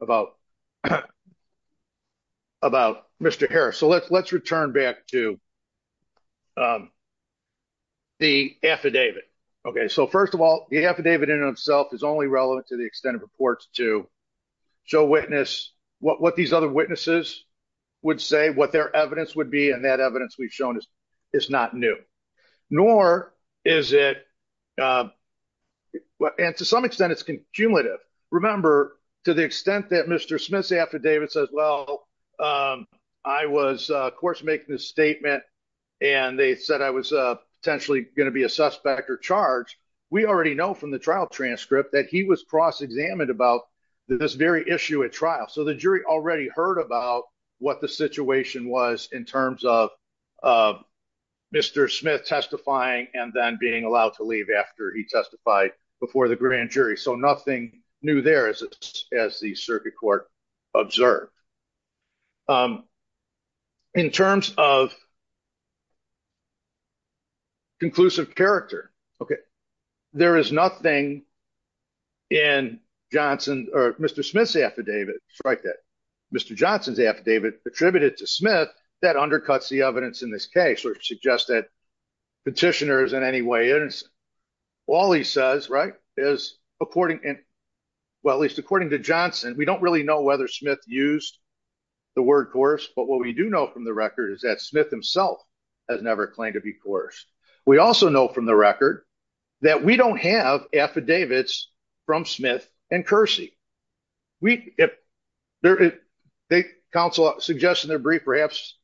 about about Mr. Harris. So let's let's return back to the affidavit. Okay, so first of all, the affidavit in itself is only relevant to the extent of reports to show witness what these other witnesses would say what their evidence would be. And that evidence we've shown is, is not new, nor is it. And to some extent, it's cumulative. Remember, to the extent that Mr. Smith's affidavit says, Well, I was, of course, making this statement. And they said I was potentially going to be a suspect or charge. We already know from the trial transcript that he was cross examined about this very issue at trial. So the jury already heard about what the situation was in terms of Mr. Smith testifying and then being allowed to leave after he testified before the grand jury. So nothing new there is, as the circuit court observed. In terms of conclusive character, okay, there is nothing in Johnson or Mr. Smith's affidavit, strike that, Mr. Johnson's affidavit attributed to Smith, that undercuts the evidence in this case or suggest that petitioner is in any way innocent. All he says, right, is, according to Johnson, we don't really know whether Smith used the word coerced. But what we do know from the record is that Smith himself has never claimed to be coerced. We also know from the record that we don't have affidavits from Smith and Kersey. The counsel suggests in their brief perhaps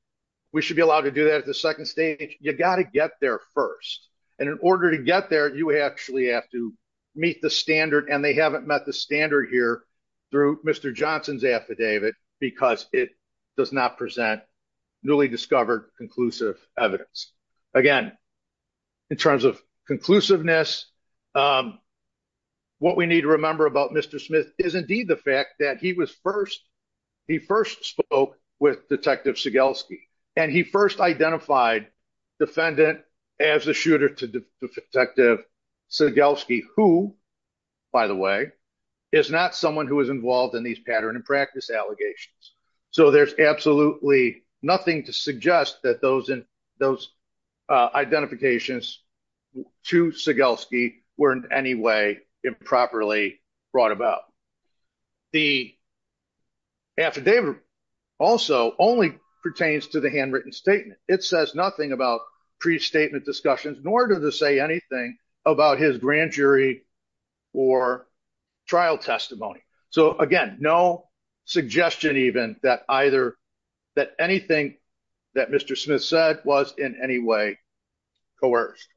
we should be allowed to do that at the second stage. You got to get there first. And in order to get there, you actually have to meet the standard. And they haven't met the standard here through Mr. Johnson's affidavit because it does not present newly discovered conclusive evidence. Again, in terms of conclusiveness, what we need to remember about Mr. Smith is indeed the fact that he was first, he first spoke with Detective Segelski, and he first identified defendant as a shooter to Detective Segelski, who, by the way, is not someone who is involved in these pattern and practice allegations. So there's absolutely nothing to suggest that those identifications to Segelski were in any way improperly brought about. The affidavit also only pertains to the handwritten statement. It says nothing about pre-statement discussions, nor does it say anything about his grand jury or trial testimony. So again, no suggestion even that either, that anything that Mr. Smith said was in any way coerced.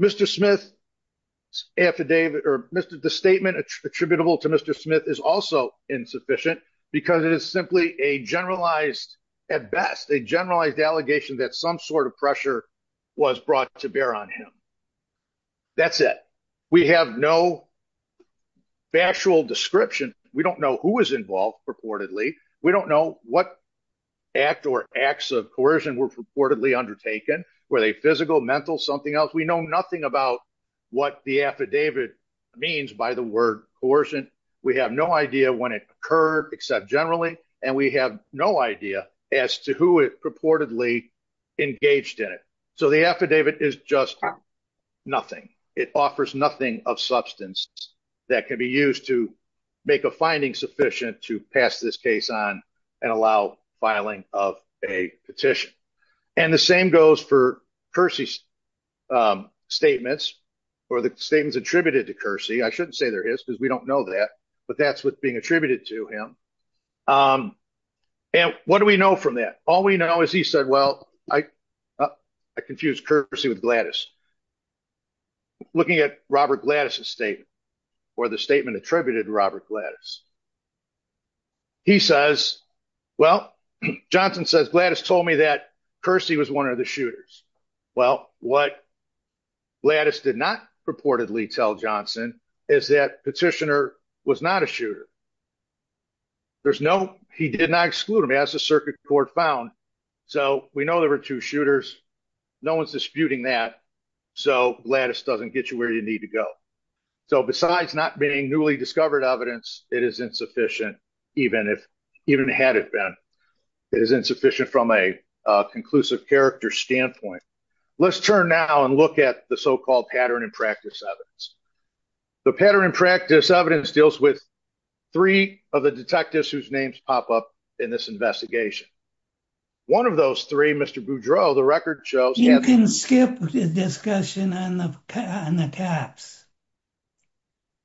Mr. Smith's affidavit or the statement attributable to Mr. Smith is also insufficient because it is simply a generalized, at best, a generalized allegation that some sort of pressure was brought to bear on him. That's it. We have no factual description. We don't know who was involved purportedly. We don't know what act or acts of coercion were purportedly undertaken. Were they physical, mental, something else? We know nothing about what the affidavit means by the word coercion. We have no idea when it occurred except generally, and we have no idea as to who purportedly engaged in it. So the affidavit is just nothing. It offers nothing of substance that can be used to make a finding sufficient to pass this case on and allow filing of a petition. And the same goes for Kersey's statements or the statements attributed to Kersey. I shouldn't say they're his because we don't know that, but that's what's being from that. All we know is he said, well, I confused Kersey with Gladys. Looking at Robert Gladys' statement or the statement attributed to Robert Gladys, he says, well, Johnson says Gladys told me that Kersey was one of the shooters. Well, what Gladys did not purportedly tell Johnson is that Petitioner was not a shooter. There's no, he did not exclude him as the circuit court found. So we know there were two shooters. No one's disputing that. So Gladys doesn't get you where you need to go. So besides not being newly discovered evidence, it is insufficient even had it been. It is insufficient from a conclusive character standpoint. Let's turn now and look at the pattern and practice evidence. The pattern and practice evidence deals with three of the detectives whose names pop up in this investigation. One of those three, Mr. Boudreaux, the record shows- You can skip the discussion on the caps.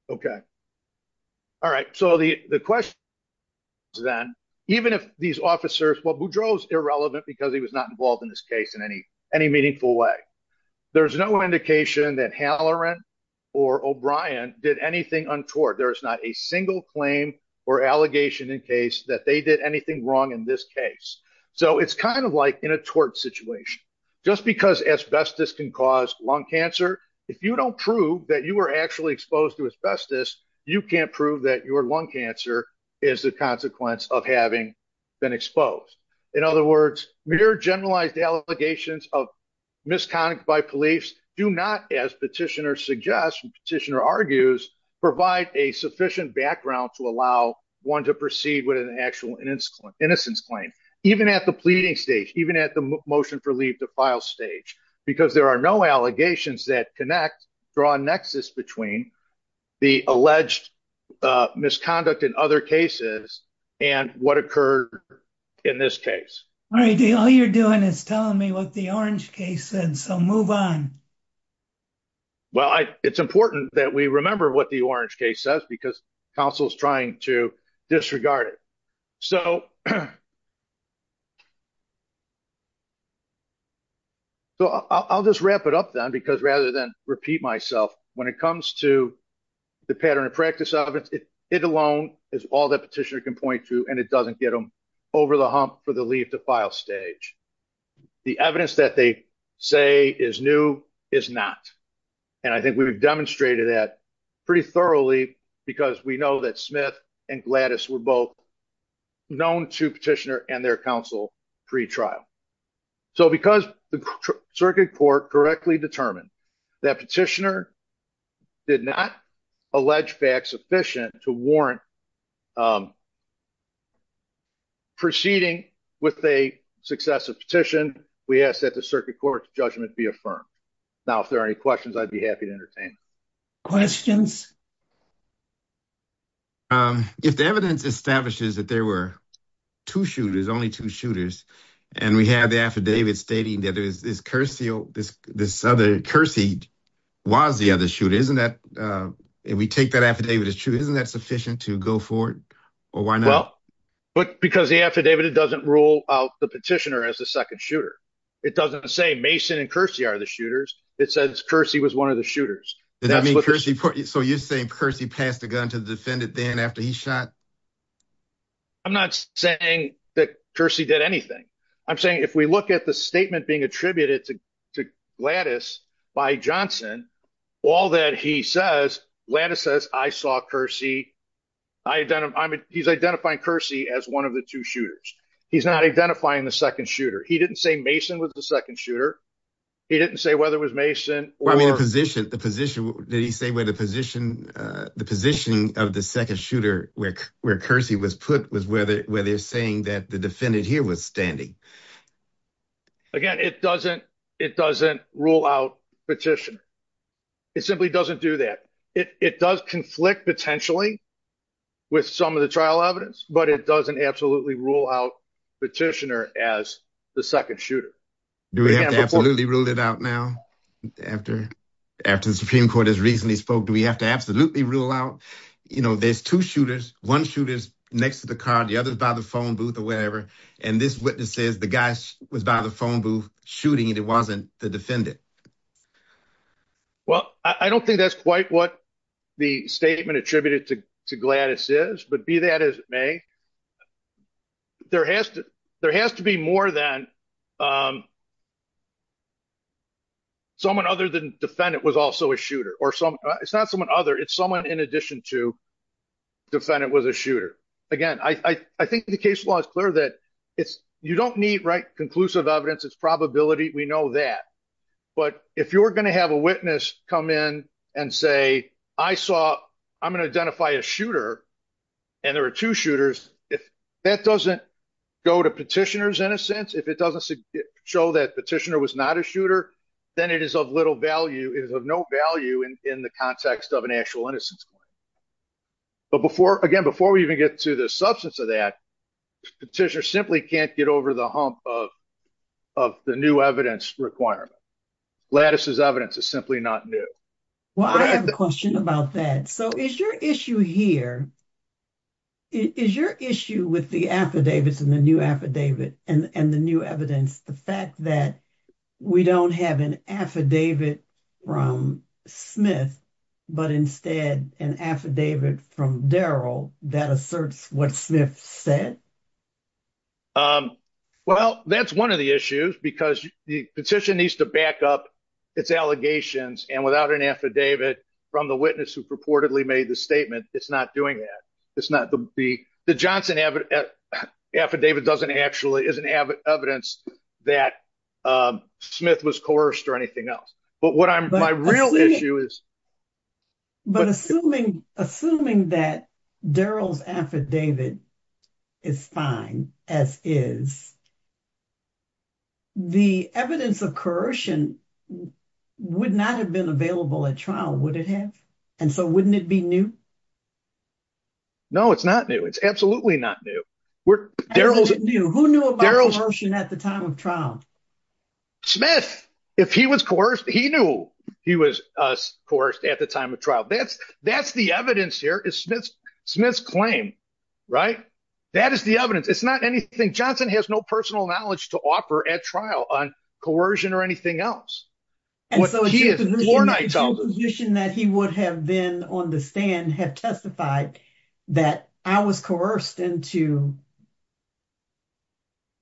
Okay. All right. So the question then, even if these officers, well, Boudreaux is irrelevant because he was not involved in this case in any meaningful way. There's no indication that Halloran or O'Brien did anything untoward. There is not a single claim or allegation in case that they did anything wrong in this case. So it's kind of like in a tort situation, just because asbestos can cause lung cancer. If you don't prove that you were actually exposed to asbestos, you can't prove that your lung cancer is the consequence of having been exposed. In other words, mere generalized allegations of misconduct by police do not, as petitioner suggests and petitioner argues, provide a sufficient background to allow one to proceed with an actual innocence claim. Even at the pleading stage, even at the motion for leave to file stage, because there are no allegations that connect, draw a nexus between the alleged misconduct in other cases and what occurred in this case. All right. All you're doing is telling me what the orange case said. So move on. Well, it's important that we remember what the orange case says because counsel's trying to disregard it. So I'll just wrap it up then because rather than repeat myself, when it comes to the pattern of practice of it, it alone is all that petitioner can point to and it doesn't get them over the hump for the leave to file stage. The evidence that they say is new is not. And I think we've demonstrated that pretty thoroughly because we know that Smith and Gladys were both known to petitioner and their counsel pre-trial. So because the circuit court correctly determined that petitioner did not allege facts sufficient to warrant proceeding with a successive petition, we ask that the circuit court judgment be affirmed. Now, if there are any questions, I'd be happy to entertain. Questions? If the evidence establishes that there were two shooters, only two shooters, and we have the affidavit stating that there is this Curcy was the other shooter. Isn't that, if we take that affidavit as true, isn't that sufficient to go forward or why not? But because the affidavit, it doesn't rule out the petitioner as the second shooter. It doesn't say Mason and Curcy are the shooters. It says Curcy was one of the shooters. So you're saying Curcy passed the gun to the defendant then after he shot? I'm not saying that Curcy did anything. I'm saying if we look at the statement being attributed to Gladys by Johnson, all that he says, Gladys says, I saw Curcy. He's identifying Curcy as one of the two shooters. He's not identifying the second shooter. He didn't say Mason was the second shooter. He didn't say whether it was Mason or... Did he say where the position of the second shooter where Curcy was put was where they're saying that the defendant here was standing? Again, it doesn't rule out petitioner. It simply doesn't do that. It does conflict potentially with some of the trial evidence, but it doesn't absolutely rule out petitioner as the second shooter. Do we have to absolutely rule it out now? After the Supreme Court has recently spoke, do we have to absolutely rule out? There's two shooters, one shooter's next to the car, the other's by the phone booth or wherever. And this witness says the guy was by the phone booth shooting and it wasn't the defendant. Well, I don't think that's quite what the statement attributed to Gladys is, but be that as it may, there has to be more than someone other than defendant was also a shooter or some... It's not someone other, it's someone in addition to defendant was a shooter. Again, I think the case law is clear that you don't need conclusive evidence, it's probability, we know that. But if you're going to have a witness come in and say, I'm going to identify a shooter and there are two shooters, if that doesn't go to petitioner's innocence, if it doesn't show that petitioner was not a shooter, then it is of little value, it is of no value in the context of an actual innocence claim. But again, before we even get to the substance of that, petitioner simply can't get over the hump of the new evidence requirement. Gladys' evidence is simply not new. Well, I have a question about that. So, is your issue here, is your issue with the affidavits and the new affidavit and the new evidence, the fact that we don't have an affidavit from Smith, but instead an affidavit from Darrell that asserts what Smith said? Well, that's one of the issues because the petition needs to back up its allegations and without an affidavit from the witness who purportedly made the statement, it's not doing that. The Johnson affidavit doesn't actually, isn't evidence that Smith was coerced or anything else. But my real issue is- Assuming that Darrell's affidavit is fine as is, the evidence of coercion would not have been available at trial, would it have? And so wouldn't it be new? No, it's not new. It's absolutely not new. Who knew about coercion at the time of trial? Smith, if he was coerced, he knew he was coerced at the time of trial. That's the evidence here, is Smith's claim, right? That is the evidence. It's not anything- Johnson has no personal knowledge to offer at trial on coercion or anything else. What he has- And so it's your position that he would have then on the stand have testified that I was coerced into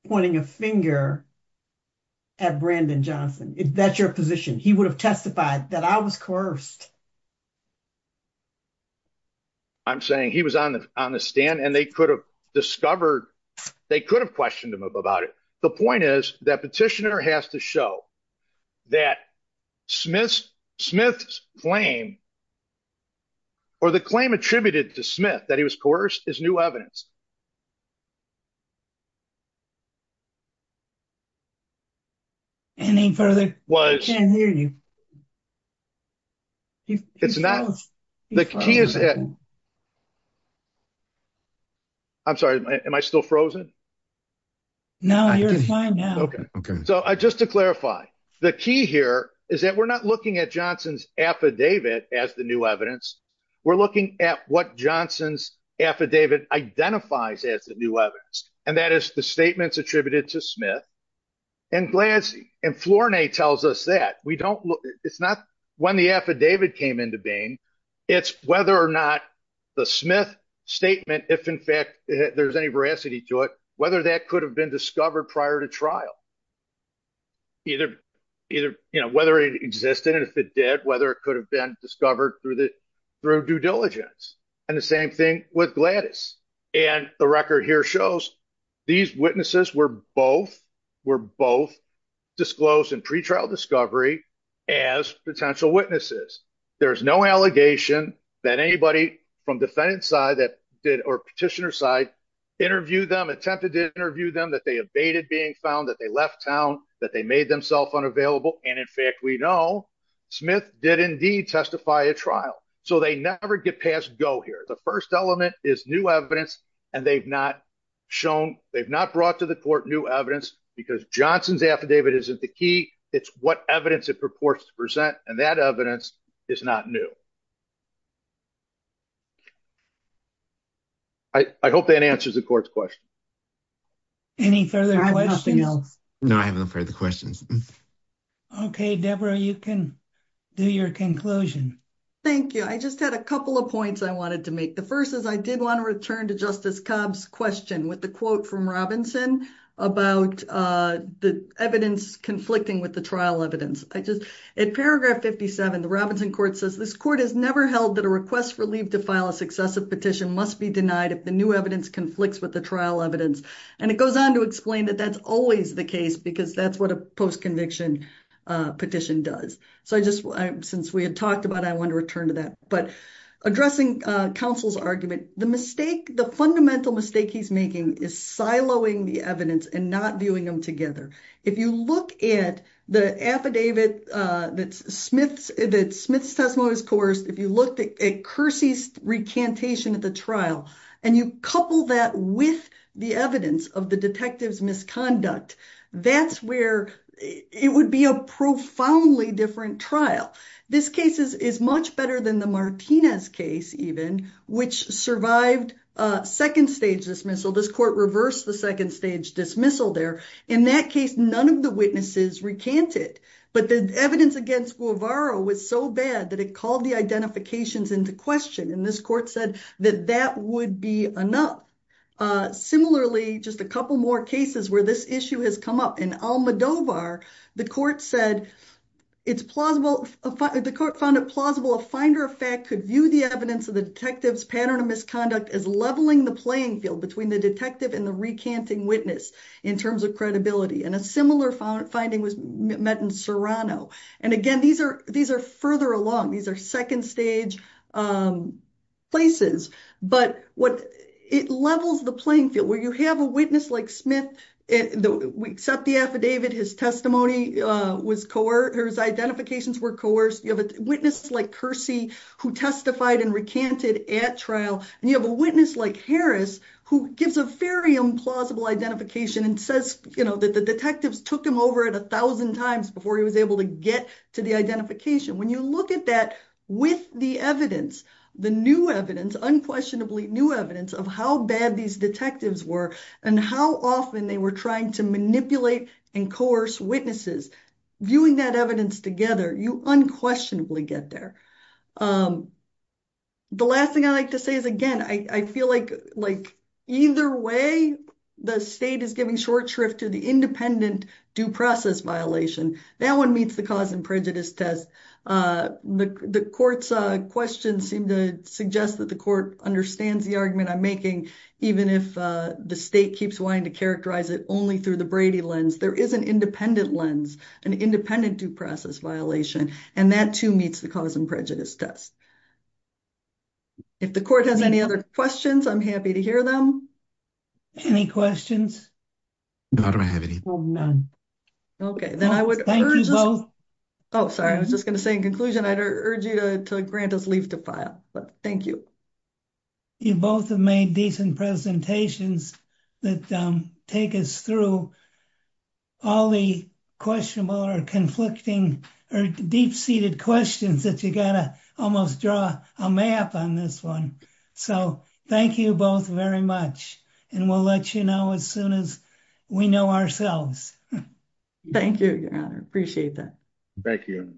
pointing a finger at Brandon Johnson. That's your position. He would have testified that I was coerced. I'm saying he was on the stand and they could have discovered, they could have questioned him about it. The point is that petitioner has to show that Smith's claim or the claim attributed to Smith that he was coerced is new evidence. Any further- Was- I can't hear you. It's not- He froze. The key is that- I'm sorry, am I still frozen? No, you're fine now. Okay. So just to clarify, the key here is that we're not looking at Johnson's affidavit as the new evidence. We're looking at what Johnson's affidavit identifies as the new evidence. And that is the statements attributed to Smith and Gladys. And Flournay tells us that. We don't look- It's not when the affidavit came into being, it's whether or not the Smith statement, if in fact there's any veracity to it, whether that could have been discovered prior to trial. Either, you know, whether it existed and if it did, whether it could have been discovered through due diligence. And the same thing with Gladys. And the record here shows these witnesses were both- were both disclosed in pretrial discovery as potential witnesses. There's no allegation that anybody from defendant's side that did- or petitioner's side interviewed them, attempted to interview them, that they abated being found, that they left town, that they made themselves unavailable. And in fact, we know Smith did testify at trial. So they never get past go here. The first element is new evidence, and they've not shown- they've not brought to the court new evidence because Johnson's affidavit isn't the key, it's what evidence it purports to present. And that evidence is not new. I hope that answers the court's question. Any further questions? No, I have no further questions. Okay, Deborah, you can do your conclusion. Thank you. I just had a couple of points I wanted to make. The first is I did want to return to Justice Cobb's question with the quote from Robinson about the evidence conflicting with the trial evidence. I just- in paragraph 57, the Robinson court says, this court has never held that a request for leave to file a successive petition must be denied if the new evidence conflicts with the trial evidence. And it goes on to explain that that's always the case because that's what a post-conviction petition does. So I just- since we had talked about it, I wanted to return to that. But addressing counsel's argument, the mistake- the fundamental mistake he's making is siloing the evidence and not viewing them together. If you look at the affidavit that Smith's testimony was coerced, if you looked at Kersey's recantation at the trial, and you couple that with the evidence of the detective's misconduct, that's where it would be a profoundly different trial. This case is much better than the Martinez case even, which survived a second stage dismissal. This court reversed the second stage dismissal there. In that case, none of the witnesses recanted, but the evidence against Guevara was so bad that it the identifications into question. And this court said that that would be enough. Similarly, just a couple more cases where this issue has come up. In Almodovar, the court said it's plausible- the court found it plausible a finder of fact could view the evidence of the detective's pattern of misconduct as leveling the playing field between the detective and the recanting witness in terms of credibility. And a similar finding was met in Serrano. And again, these are further along. These are second stage places. But what it levels the playing field where you have a witness like Smith, we accept the affidavit, his testimony was coerced, his identifications were coerced. You have a witness like Kersey, who testified and recanted at trial. And you have a witness like Harris, who gives a very implausible identification and says, you know, that the detectives took him over at 1000 times before he was able to get to the identification. When you look at that with the evidence, the new evidence, unquestionably new evidence of how bad these detectives were, and how often they were trying to manipulate and coerce witnesses, viewing that evidence together, you unquestionably get there. The last thing I'd like to say is, again, I feel like either way, the state is giving short shrift to the independent due process violation. That one meets the cause and prejudice test. The court's questions seem to suggest that the court understands the argument I'm making, even if the state keeps wanting to characterize it only through the Brady lens, there is an independent lens, an independent due process violation. And that too, meets the cause and prejudice test. If the court has any other questions, I'm happy to hear them. Any questions? No, I don't have any. Okay, then I would. Oh, sorry, I was just going to say in conclusion, I'd urge you to grant us leave to file, but thank you. You both have made decent presentations that take us through all the questionable or conflicting or deep seated questions that you got to almost draw a map on this one. So thank you both very much. And we'll let you know as soon as we know ourselves. Thank you. Appreciate that. Thank you.